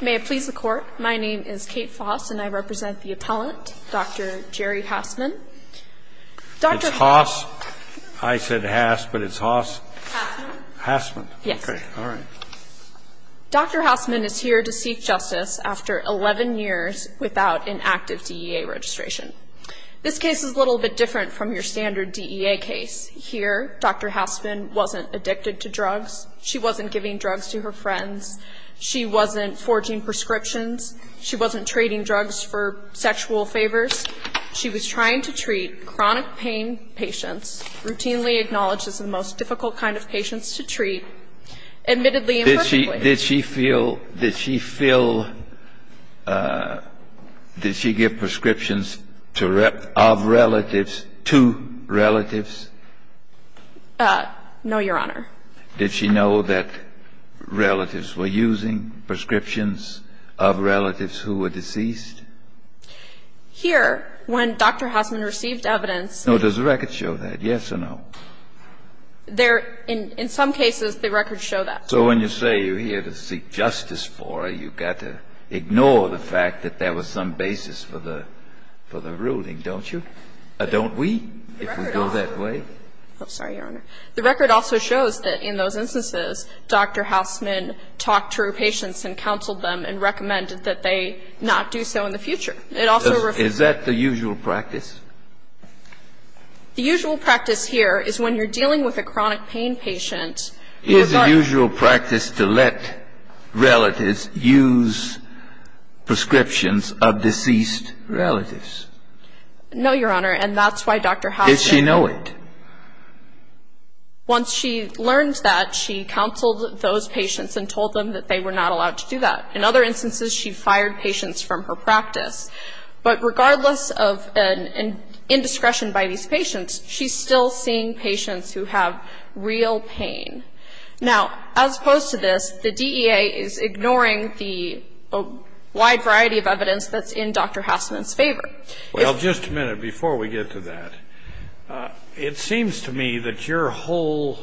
May it please the court, my name is Kate Foss and I represent the appellant, Dr. Jeri Hassman. It's Haas? I said Hass but it's Haas? Hassman. Hassman? Yes. Okay, all right. Dr. Hassman is here to seek justice after 11 years without an active DEA registration. This case is a little bit different from your standard DEA case. Here, Dr. Hassman wasn't addicted to drugs, she wasn't giving drugs to her friends, she wasn't forging prescriptions, she wasn't trading drugs for sexual favors. She was trying to treat chronic pain patients, routinely acknowledged as the most difficult kind of patients to treat. Admittedly and personally. Did she feel, did she feel, did she give prescriptions of relatives to relatives? No, Your Honor. Did she know that relatives were using prescriptions of relatives who were deceased? Here, when Dr. Hassman received evidence. No, does the record show that? Yes or no? There, in some cases, the records show that. So when you say you're here to seek justice for her, you've got to ignore the fact that there was some basis for the, for the ruling, don't you? Don't we, if we go that way? I'm sorry, Your Honor. The record also shows that in those instances, Dr. Hassman talked to her patients and counseled them and recommended that they not do so in the future. It also. Is that the usual practice? The usual practice here is when you're dealing with a chronic pain patient. Is the usual practice to let relatives use prescriptions of deceased relatives? No, Your Honor, and that's why Dr. Hassman. Did she know it? Once she learned that, she counseled those patients and told them that they were not allowed to do that. In other instances, she fired patients from her practice. But regardless of an indiscretion by these patients, she's still seeing patients who have real pain. Now, as opposed to this, the DEA is ignoring the wide variety of evidence that's in Dr. Hassman's favor. Well, just a minute before we get to that. It seems to me that your whole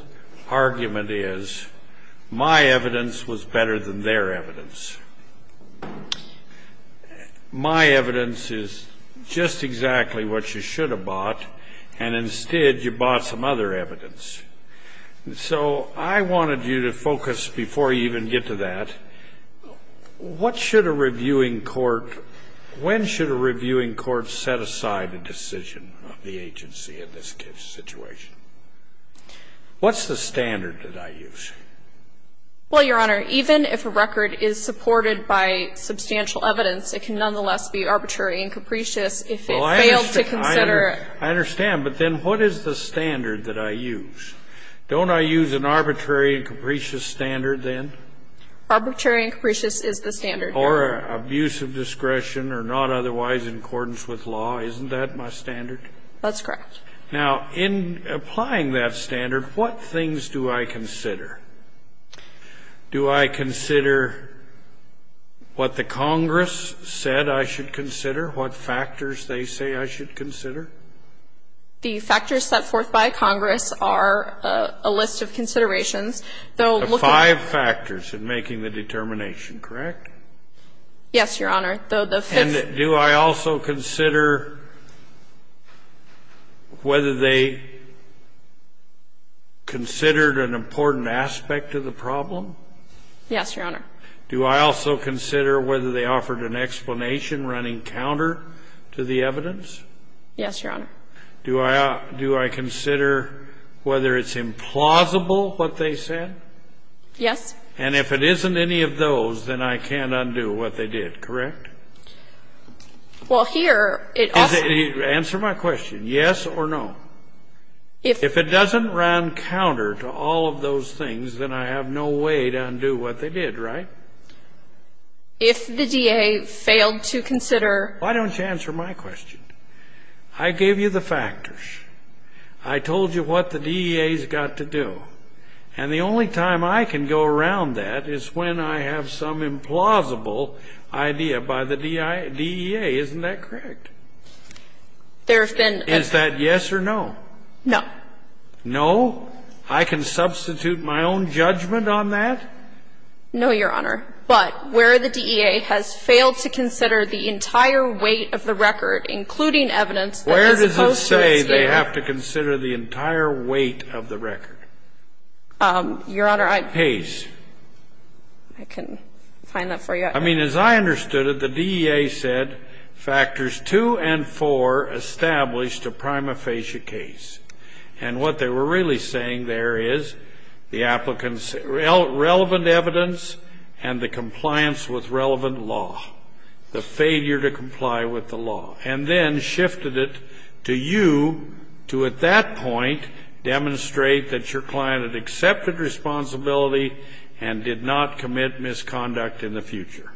argument is my evidence was better than their evidence. My evidence is just exactly what you should have bought, and instead you bought some other evidence. So I wanted you to focus, before you even get to that, what should a reviewing court, when should a reviewing court set aside a decision of the agency in this situation? What's the standard that I use? Well, Your Honor, even if a record is supported by substantial evidence, it can nonetheless be arbitrary and capricious if it failed to consider. I understand, but then what is the standard that I use? Don't I use an arbitrary and capricious standard then? Or abuse of discretion or not otherwise in accordance with law. Isn't that my standard? That's correct. Now, in applying that standard, what things do I consider? Do I consider what the Congress said I should consider, what factors they say I should consider? The five factors in making the determination, correct? Yes, Your Honor. And do I also consider whether they considered an important aspect of the problem? Yes, Your Honor. Do I also consider whether they offered an explanation running counter to the evidence? Yes, Your Honor. Do I consider whether it's implausible what they said? Yes. And if it isn't any of those, then I can't undo what they did, correct? Well, here, it also ---- Answer my question. Yes or no? If it doesn't run counter to all of those things, then I have no way to undo what they did, right? If the DA failed to consider ---- Why don't you answer my question? I gave you the factors. I told you what the DEA has got to do. And the only time I can go around that is when I have some implausible idea by the DEA. Isn't that correct? There have been ---- Is that yes or no? No. No? I can substitute my own judgment on that? No, Your Honor. But where the DEA has failed to consider the entire weight of the record, including evidence that is supposed to be ---- Where does it say they have to consider the entire weight of the record? Your Honor, I ---- Case. I can find that for you. I mean, as I understood it, the DEA said factors 2 and 4 established a prima facie case. And what they were really saying there is the applicant's relevant evidence and the compliance with relevant law, the failure to comply with the law, and then shifted it to you to, at that point, demonstrate that your client had accepted responsibility and did not commit misconduct in the future.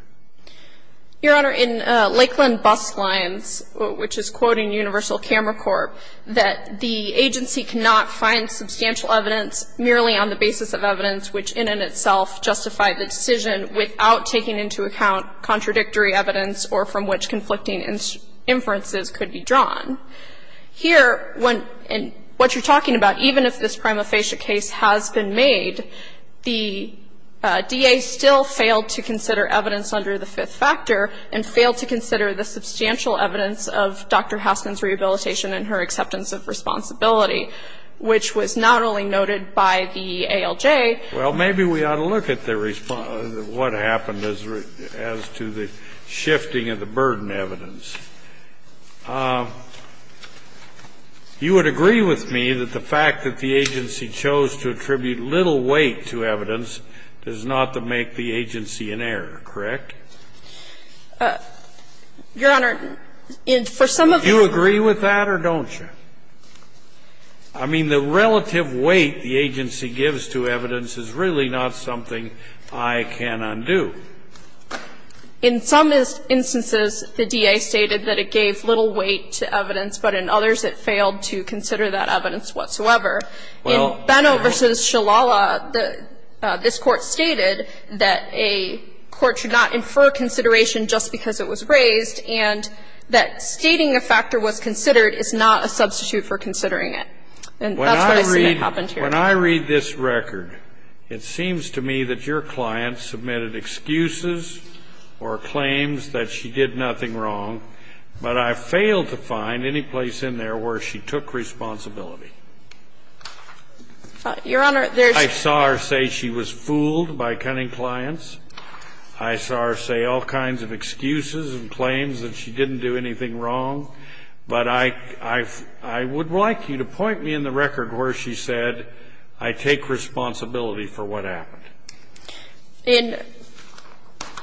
Your Honor, in Lakeland Bus Lines, which is quoting Universal Camera Corp., that the agency cannot find substantial evidence merely on the basis of evidence which in and of itself justified the decision without taking into account contradictory evidence or from which conflicting inferences could be drawn. Here, what you're talking about, even if this prima facie case has been made, the DEA still failed to consider evidence under the fifth factor and failed to consider the substantial evidence of Dr. Haskin's rehabilitation and her acceptance of responsibility, which was not only noted by the ALJ. Well, maybe we ought to look at the response, what happened as to the shifting of the burden evidence. You would agree with me that the fact that the agency chose to attribute little weight to evidence does not make the agency an error, correct? Your Honor, in for some of the Do you agree with that or don't you? I mean, the relative weight the agency gives to evidence is really not something I can undo. In some instances, the DEA stated that it gave little weight to evidence, but in others it failed to consider that evidence whatsoever. In Beno v. Shalala, this Court stated that a court should not infer consideration just because it was raised and that stating a factor was considered is not a substitute for considering it. And that's what I see that happened here. When I read this record, it seems to me that your client submitted excuses or claims that she did nothing wrong, but I failed to find any place in there where she took responsibility. Your Honor, there's I saw her say she was fooled by cunning clients. I saw her say all kinds of excuses and claims that she didn't do anything wrong, but I would like you to point me in the record where she said, I take responsibility for what happened.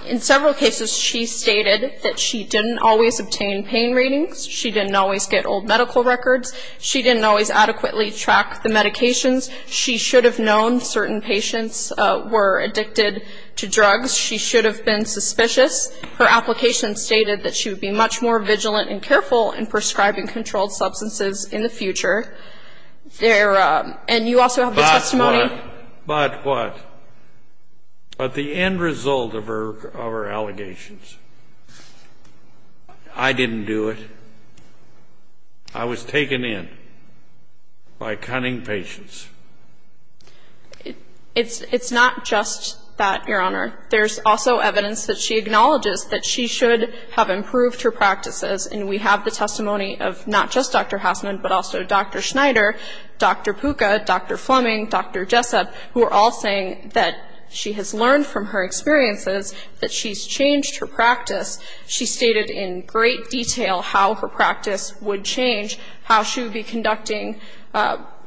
In several cases, she stated that she didn't always obtain pain readings. She didn't always get old medical records. She didn't always adequately track the medications. She should have known certain patients were addicted to drugs. She should have been suspicious. Her application stated that she would be much more vigilant and careful in prescribing controlled substances in the future. And you also have the testimony But what? But what? But the end result of her allegations. I didn't do it. I was taken in by cunning patients. It's not just that, Your Honor. There's also evidence that she acknowledges that she should have improved her practices, and we have the testimony of not just Dr. Hassman, but also Dr. Schneider, Dr. Pucca, Dr. Fleming, Dr. Jessup, who are all saying that she has learned from her experiences that she's changed her practice. She stated in great detail how her practice would change, how she would be conducting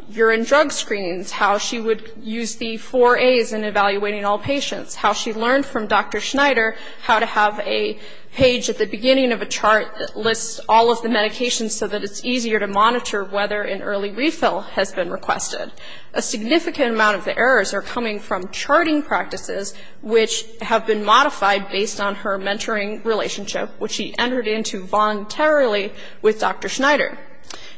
urine drug screenings, how she would use the four A's in evaluating all patients, how she learned from Dr. Schneider how to have a page at the beginning of a chart that lists all of the medications so that it's easier to monitor whether an early refill has been requested. A significant amount of the errors are coming from charting practices, which have been modified based on her mentoring relationship, which she entered into voluntarily with Dr. Schneider.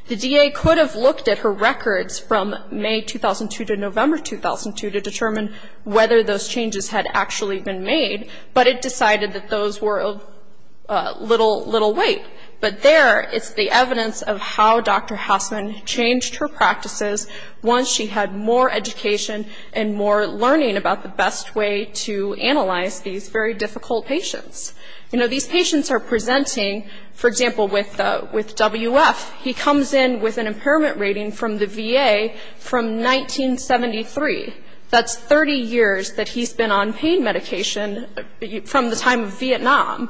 The DA could have looked at her records from May 2002 to November 2002 to determine whether those changes had actually been made, but it decided that those were of little weight. But there is the evidence of how Dr. Hassman changed her practices once she had more education and more learning about the best way to analyze these very difficult patients. You know, these patients are presenting, for example, with WF. He comes in with an impairment rating from the VA from 1973. That's 30 years that he's been on pain medication from the time of Vietnam.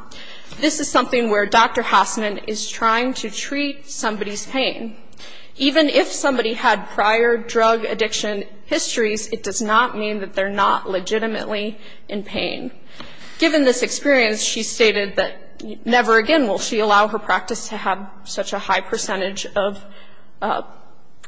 This is something where Dr. Hassman is trying to treat somebody's pain. Even if somebody had prior drug addiction histories, it does not mean that they're not legitimately in pain. Given this experience, she stated that never again will she allow her practice to have such a high percentage of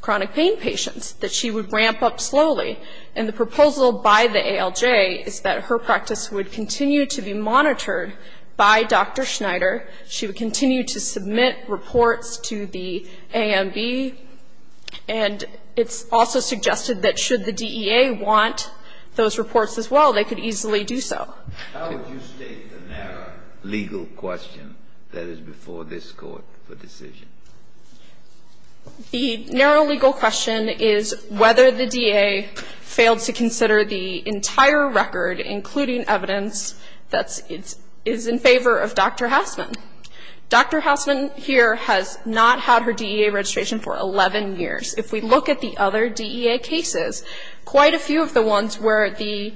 chronic pain patients, that she would ramp up slowly. And the proposal by the ALJ is that her practice would continue to be monitored by Dr. Schneider. She would continue to submit reports to the AMB. And it's also suggested that should the DEA want those reports as well, they could easily do so. Kennedy. How would you state the narrow legal question that is before this Court for decision? The narrow legal question is whether the DEA failed to consider the entire record, including evidence that is in favor of Dr. Hassman. Dr. Hassman here has not had her DEA registration for 11 years. If we look at the other DEA cases, quite a few of the ones where the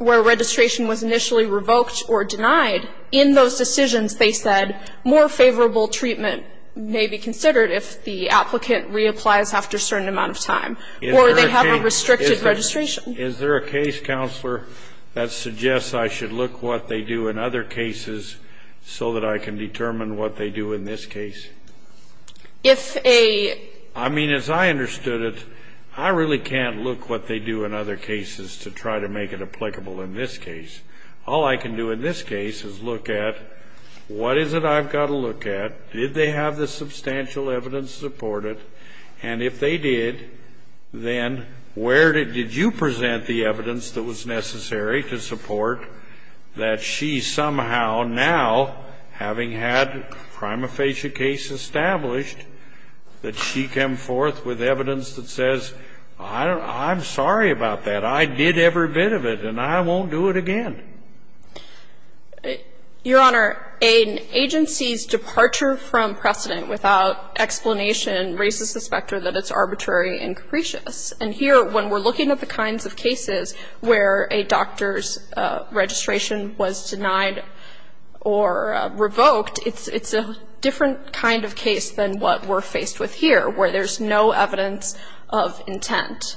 registration was initially revoked or denied, in those decisions they said more favorable treatment may be considered if the applicant reapplies after a certain amount of time or they have a restricted registration. Is there a case, Counselor, that suggests I should look what they do in other cases so that I can determine what they do in this case? If a ---- I mean, as I understood it, I really can't look what they do in other cases to try to make it applicable in this case. All I can do in this case is look at what is it I've got to look at, did they have the substantial evidence to support it, and if they did, then where did you present the evidence that was necessary to support that she somehow now, having had a prima facie case established, that she came forth with evidence that says, I'm sorry about that, I did every bit of it, and I won't do it again? Your Honor, an agency's departure from precedent without explanation raises the specter that it's arbitrary and capricious. And here, when we're looking at the kinds of cases where a doctor's registration was denied or revoked, it's a different kind of case than what we're faced with here, where there's no evidence of intent.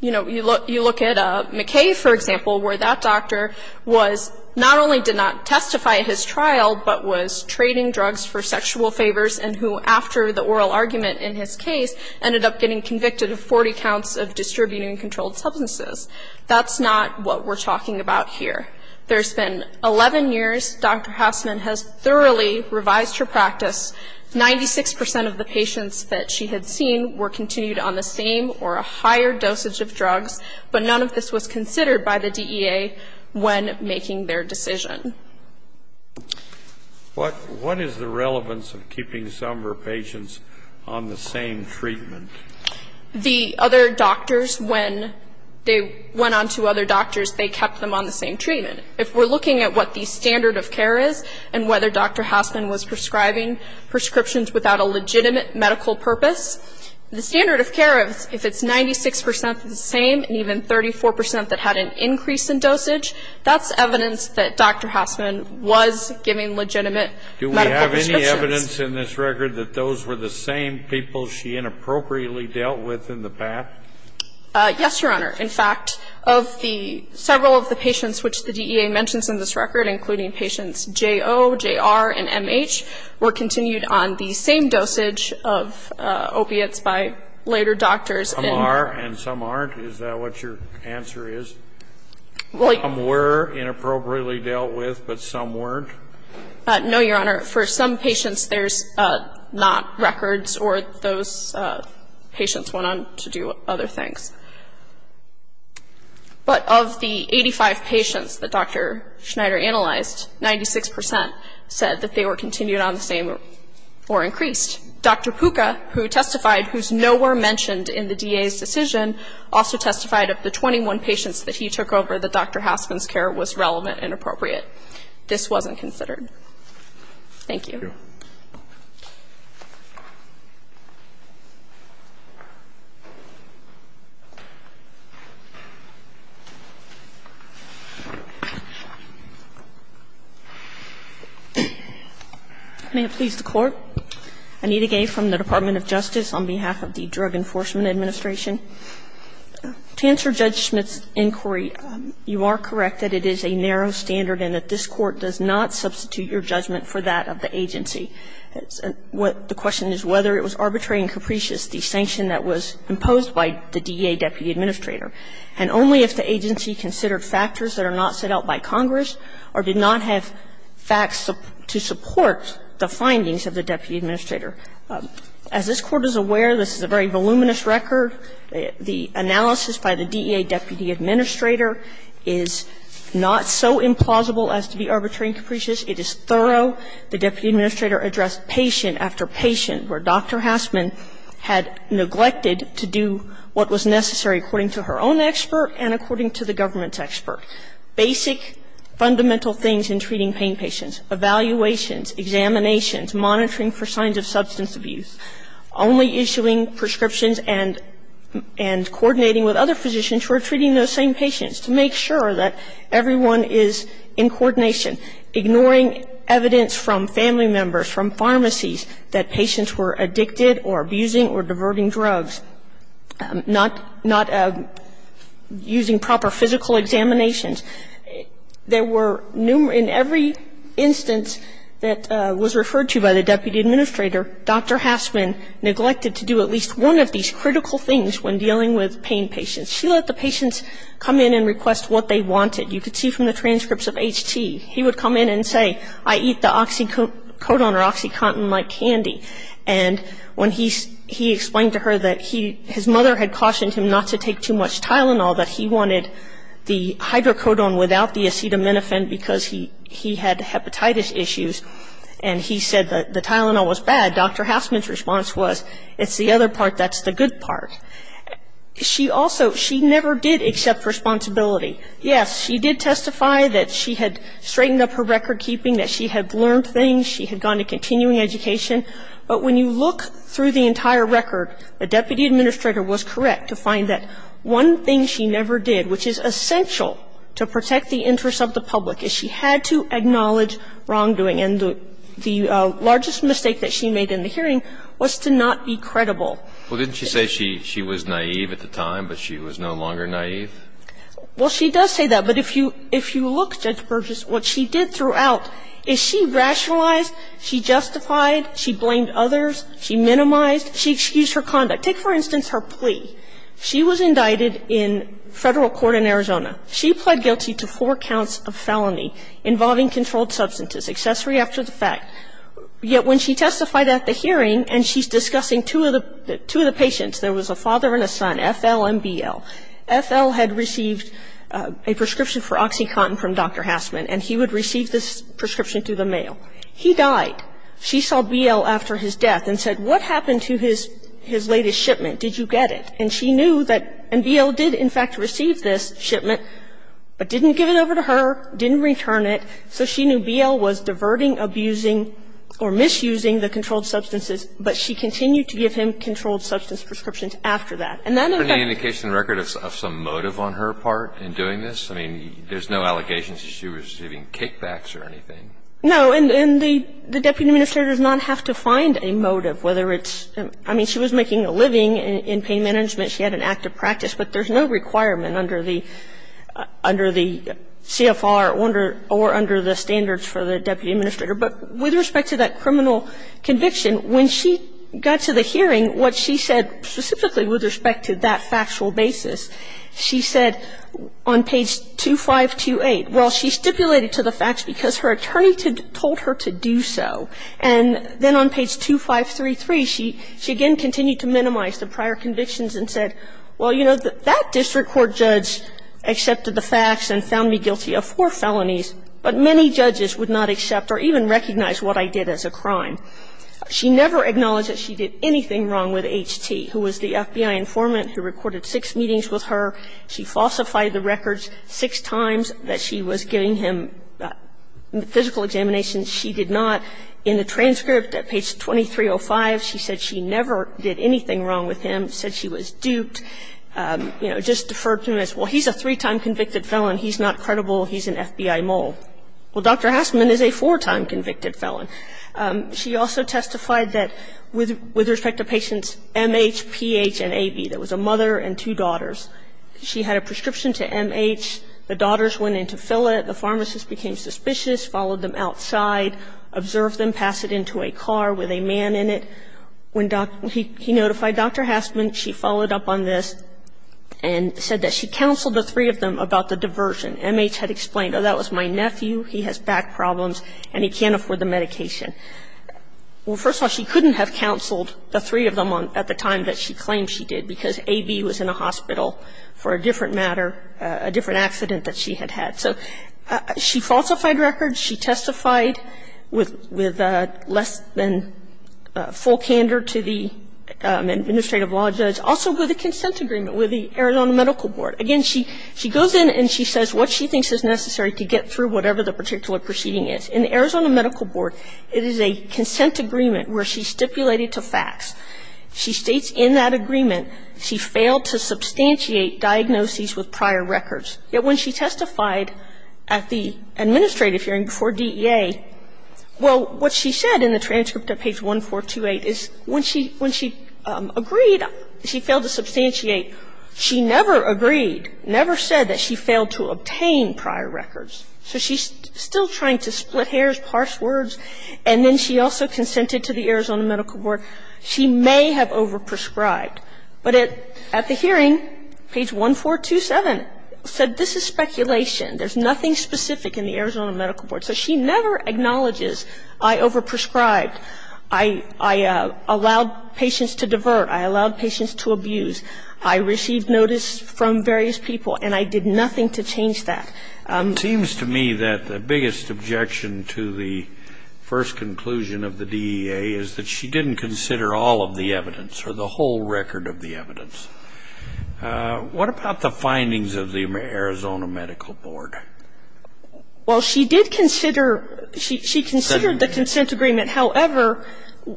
You know, you look at McKay, for example, where that doctor was, not only did not testify at his trial, but was trading drugs for sexual favors and who, after the oral argument in his case, ended up getting convicted of 40 counts of distributing controlled substances. That's not what we're talking about here. There's been 11 years Dr. Hausman has thoroughly revised her practice. Ninety-six percent of the patients that she had seen were continued on the same or a higher dosage of drugs, but none of this was considered by the DEA when making their decision. What is the relevance of keeping some of her patients on the same treatment? The other doctors, when they went on to other doctors, they kept them on the same treatment. If we're looking at what the standard of care is and whether Dr. Hausman was prescribing prescriptions without a legitimate medical purpose, the standard of care, if it's 96 percent the same and even 34 percent that had an increase in dosage, that's evidence that Dr. Hausman was giving legitimate medical prescriptions. Do we have any evidence in this record that those were the same people she inappropriately dealt with in the past? Yes, Your Honor. In fact, of the several of the patients which the DEA mentions in this record, including patients J.O., J.R., and M.H., were continued on the same dosage of opiates by later doctors. Some are and some aren't? Is that what your answer is? Some were inappropriately dealt with, but some weren't? No, Your Honor. For some patients, there's not records or those patients went on to do other things. But of the 85 patients that Dr. Schneider analyzed, 96 percent said that they were continued on the same or increased. Dr. Puca, who testified, who's nowhere mentioned in the DEA's decision, also testified of the 21 patients that he took over that Dr. Hausman's care was relevant and appropriate. This wasn't considered. Thank you. Thank you. May it please the Court. Anita Gay from the Department of Justice on behalf of the Drug Enforcement Administration. To answer Judge Schmidt's inquiry, you are correct that it is a narrow standard and that this Court does not substitute your judgment for that of the agency. The question is whether it was arbitrary and capricious, the sanction that was imposed by the DEA deputy administrator, and only if the agency considered factors that are not set out by Congress or did not have facts to support the findings of the deputy administrator. As this Court is aware, this is a very voluminous record. The analysis by the DEA deputy administrator is not so implausible as to be arbitrary and capricious. It is thorough. The deputy administrator addressed patient after patient where Dr. Hausman had neglected to do what was necessary according to her own expert and according to the government's expert, basic fundamental things in treating pain patients, evaluations, examinations, monitoring for signs of substance abuse, only issuing prescriptions and coordinating with other physicians who are treating those same patients to make sure that everyone is in coordination, ignoring evidence from family members, from pharmacies, that patients were addicted or abusing or diverting drugs, not using proper physical examinations. There were numerous ñ in every instance that was referred to by the deputy administrator, Dr. Hausman neglected to do at least one of these critical things when dealing with pain patients. She let the patients come in and request what they wanted. You could see from the transcripts of HT. He would come in and say, I eat the oxycodone or oxycontin-like candy. And when he explained to her that his mother had cautioned him not to take too much Tylenol, that he wanted the hydrocodone without the acetaminophen because he had hepatitis issues, and he said the Tylenol was bad, Dr. Hausman's response was, it's the other part that's the good part. She also ñ she never did accept responsibility. Yes, she did testify that she had straightened up her record keeping, that she had learned things, she had gone to continuing education. But when you look through the entire record, the deputy administrator was correct to find that one thing she never did, which is essential to protect the interests of the public, is she had to acknowledge wrongdoing. And the largest mistake that she made in the hearing was to not be credible. Well, didn't she say she was naive at the time, but she was no longer naive? Well, she does say that, but if you look, Judge Burgess, what she did throughout is she rationalized, she justified, she blamed others, she minimized, she excused her conduct. Take, for instance, her plea. She was indicted in federal court in Arizona. She pled guilty to four counts of felony involving controlled substances, accessory after the fact. Yet when she testified at the hearing and she's discussing two of the patients, there was a father and a son, F.L. and B.L. F.L. had received a prescription for OxyContin from Dr. Hassman, and he would receive this prescription through the mail. He died. She saw B.L. after his death and said, what happened to his latest shipment? Did you get it? And she knew that B.L. did, in fact, receive this shipment, but didn't give it over to her, didn't return it, so she knew B.L. was diverting, abusing, or misusing the controlled substances, but she continued to give him controlled substance prescriptions after that. And that in fact was a motive on her part in doing this. I mean, there's no allegations that she was receiving kickbacks or anything. No. And the deputy administrator does not have to find a motive, whether it's – I mean, she was making a living in pain management, she had an active practice, but there's no requirement under the CFR or under the standards for the deputy administrator. But with respect to that criminal conviction, when she got to the hearing, what she said specifically with respect to that factual basis, she said on page 2528, well, she stipulated to the facts because her attorney told her to do so. And then on page 2533, she again continued to minimize the prior convictions and said, well, you know, that district court judge accepted the facts and found me guilty of four felonies, but many judges would not accept or even recognize what I did as a crime. She never acknowledged that she did anything wrong with H.T., who was the FBI informant who recorded six meetings with her. She falsified the records six times that she was giving him physical examinations. She did not. In the transcript at page 2305, she said she never did anything wrong with him, said she was duped, you know, just deferred to him as, well, he's a three-time convicted felon. He's not credible. He's an FBI mole. Well, Dr. Hastman is a four-time convicted felon. She also testified that with respect to patients M.H., P.H., and A.V. there was a mother and two daughters. She had a prescription to M.H. The daughters went in to fill it. The pharmacist became suspicious, followed them outside, observed them, passed it into a car with a man in it. When he notified Dr. Hastman, she followed up on this and said that she counseled the three of them about the diversion. M.H. had explained, oh, that was my nephew. He has back problems and he can't afford the medication. Well, first of all, she couldn't have counseled the three of them at the time that she claimed she did because A.V. was in a hospital for a different matter, a different accident that she had had. So she falsified records. She testified with less than full candor to the administrative law judge, also with a consent agreement with the Arizona Medical Board. Again, she goes in and she says what she thinks is necessary to get through whatever the particular proceeding is. In the Arizona Medical Board, it is a consent agreement where she's stipulated to facts. She states in that agreement she failed to substantiate diagnoses with prior records. Yet when she testified at the administrative hearing before DEA, well, what she said in the transcript at page 1428 is when she agreed, she failed to substantiate. She never agreed, never said that she failed to obtain prior records. So she's still trying to split hairs, parse words. And then she also consented to the Arizona Medical Board. She may have overprescribed. But at the hearing, page 1427 said this is speculation. There's nothing specific in the Arizona Medical Board. So she never acknowledges I overprescribed. I allowed patients to divert. I allowed patients to abuse. I received notice from various people, and I did nothing to change that. It seems to me that the biggest objection to the first conclusion of the DEA is that she didn't consider all of the evidence or the whole record of the evidence. What about the findings of the Arizona Medical Board? Well, she did consider the consent agreement. However,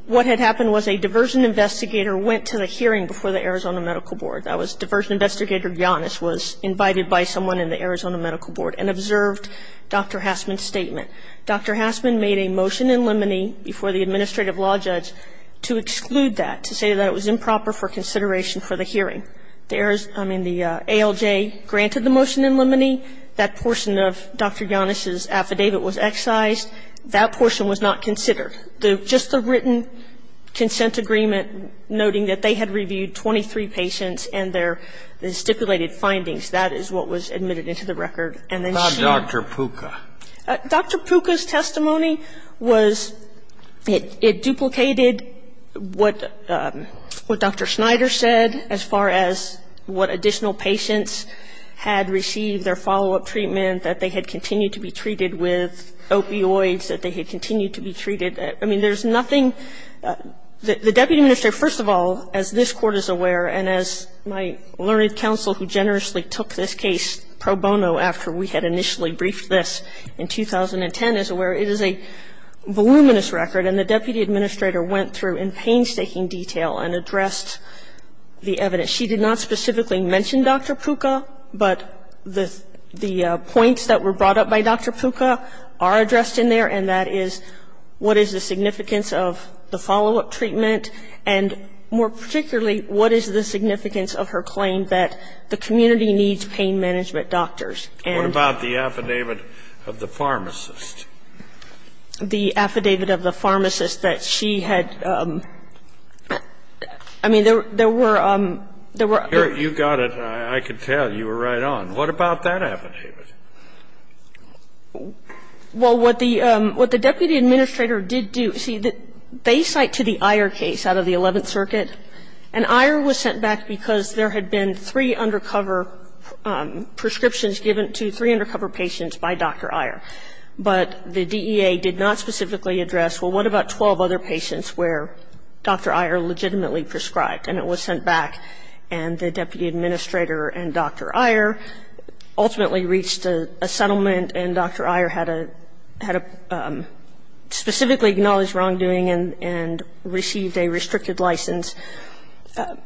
what had happened was a diversion investigator went to the hearing before the Arizona Medical Board. That was diversion investigator Giannis was invited by someone in the Arizona Medical Board and observed Dr. Hassman's statement. Dr. Hassman made a motion in limine before the administrative law judge to exclude that, to say that it was improper for consideration for the hearing. The ALJ granted the motion in limine. That portion of Dr. Giannis's affidavit was excised. That portion was not considered. Just the written consent agreement noting that they had reviewed 23 patients and their stipulated findings. That is what was admitted into the record. And then she ---- What about Dr. Pucca? Dr. Pucca's testimony was it duplicated what Dr. Schneider said as far as what additional patients had received their follow-up treatment, that they had continued to be treated with opioids, that they had continued to be treated. I mean, there's nothing ---- the deputy administrator, first of all, as this Court is aware, and as my learned counsel who generously took this case pro bono after we had initially briefed this in 2010 is aware, it is a voluminous record. And the deputy administrator went through in painstaking detail and addressed the evidence. She did not specifically mention Dr. Pucca, but the points that were brought up by Dr. Pucca are addressed in there, and that is what is the significance of the follow-up treatment, and more particularly, what is the significance of her claim that the community needs pain management doctors, and ---- What about the affidavit of the pharmacist? The affidavit of the pharmacist that she had ---- I mean, there were ---- You got it. I could tell you were right on. What about that affidavit? Well, what the deputy administrator did do, see, they cite to the Iyer case out of the Eleventh Circuit, and Iyer was sent back because there had been three undercover prescriptions given to three undercover patients by Dr. Iyer. But the DEA did not specifically address, well, what about 12 other patients where Dr. Iyer legitimately prescribed? And it was sent back, and the deputy administrator and Dr. Iyer ultimately reached a settlement, and Dr. Iyer had a ---- had a specifically acknowledged wrongdoing and received a restricted license.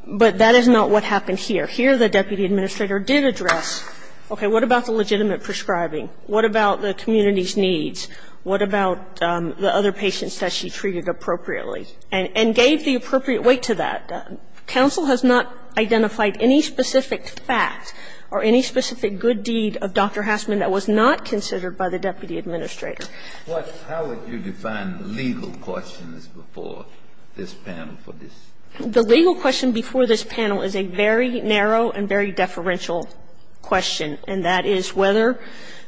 But that is not what happened here. Here the deputy administrator did address, okay, what about the legitimate prescribing? What about the community's needs? What about the other patients that she treated appropriately? And gave the appropriate weight to that. Counsel has not identified any specific fact or any specific good deed of Dr. Hassman that was not considered by the deputy administrator. But how would you define the legal questions before this panel for this? The legal question before this panel is a very narrow and very deferential question, and that is whether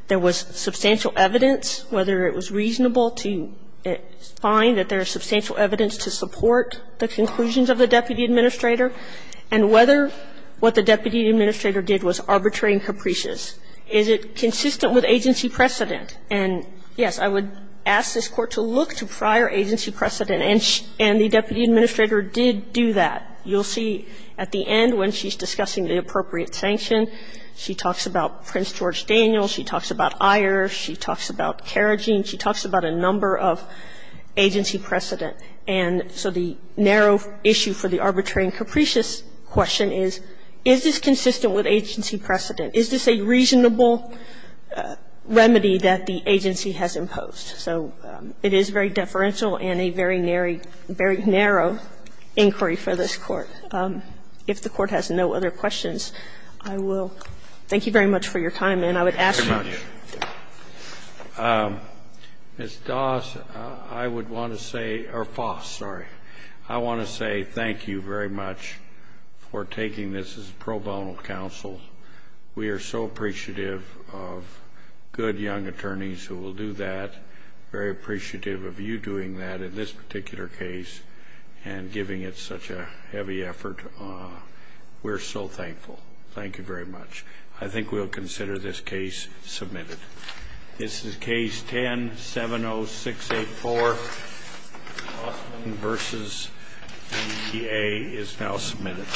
there was substantial evidence, whether it was reasonable to find that there is substantial evidence to support the conclusions of the deputy administrator, and whether what the deputy administrator did was arbitrary and capricious. Is it consistent with agency precedent? And, yes, I would ask this Court to look to prior agency precedent, and the deputy administrator did do that. You'll see at the end when she's discussing the appropriate sanction, she talks about agency precedent, and so the narrow issue for the arbitrary and capricious question is, is this consistent with agency precedent? Is this a reasonable remedy that the agency has imposed? So it is very deferential and a very narrow, very narrow inquiry for this Court. If the Court has no other questions, I will thank you very much for your time. And I would ask you. Ms. Doss, I would want to say, or Foss, sorry. I want to say thank you very much for taking this as a pro bono counsel. We are so appreciative of good young attorneys who will do that, very appreciative of you doing that in this particular case and giving it such a heavy effort. We're so thankful. Thank you very much. I think we'll consider this case submitted. This is Case 10-70684, Austin v. EPA, is now submitted.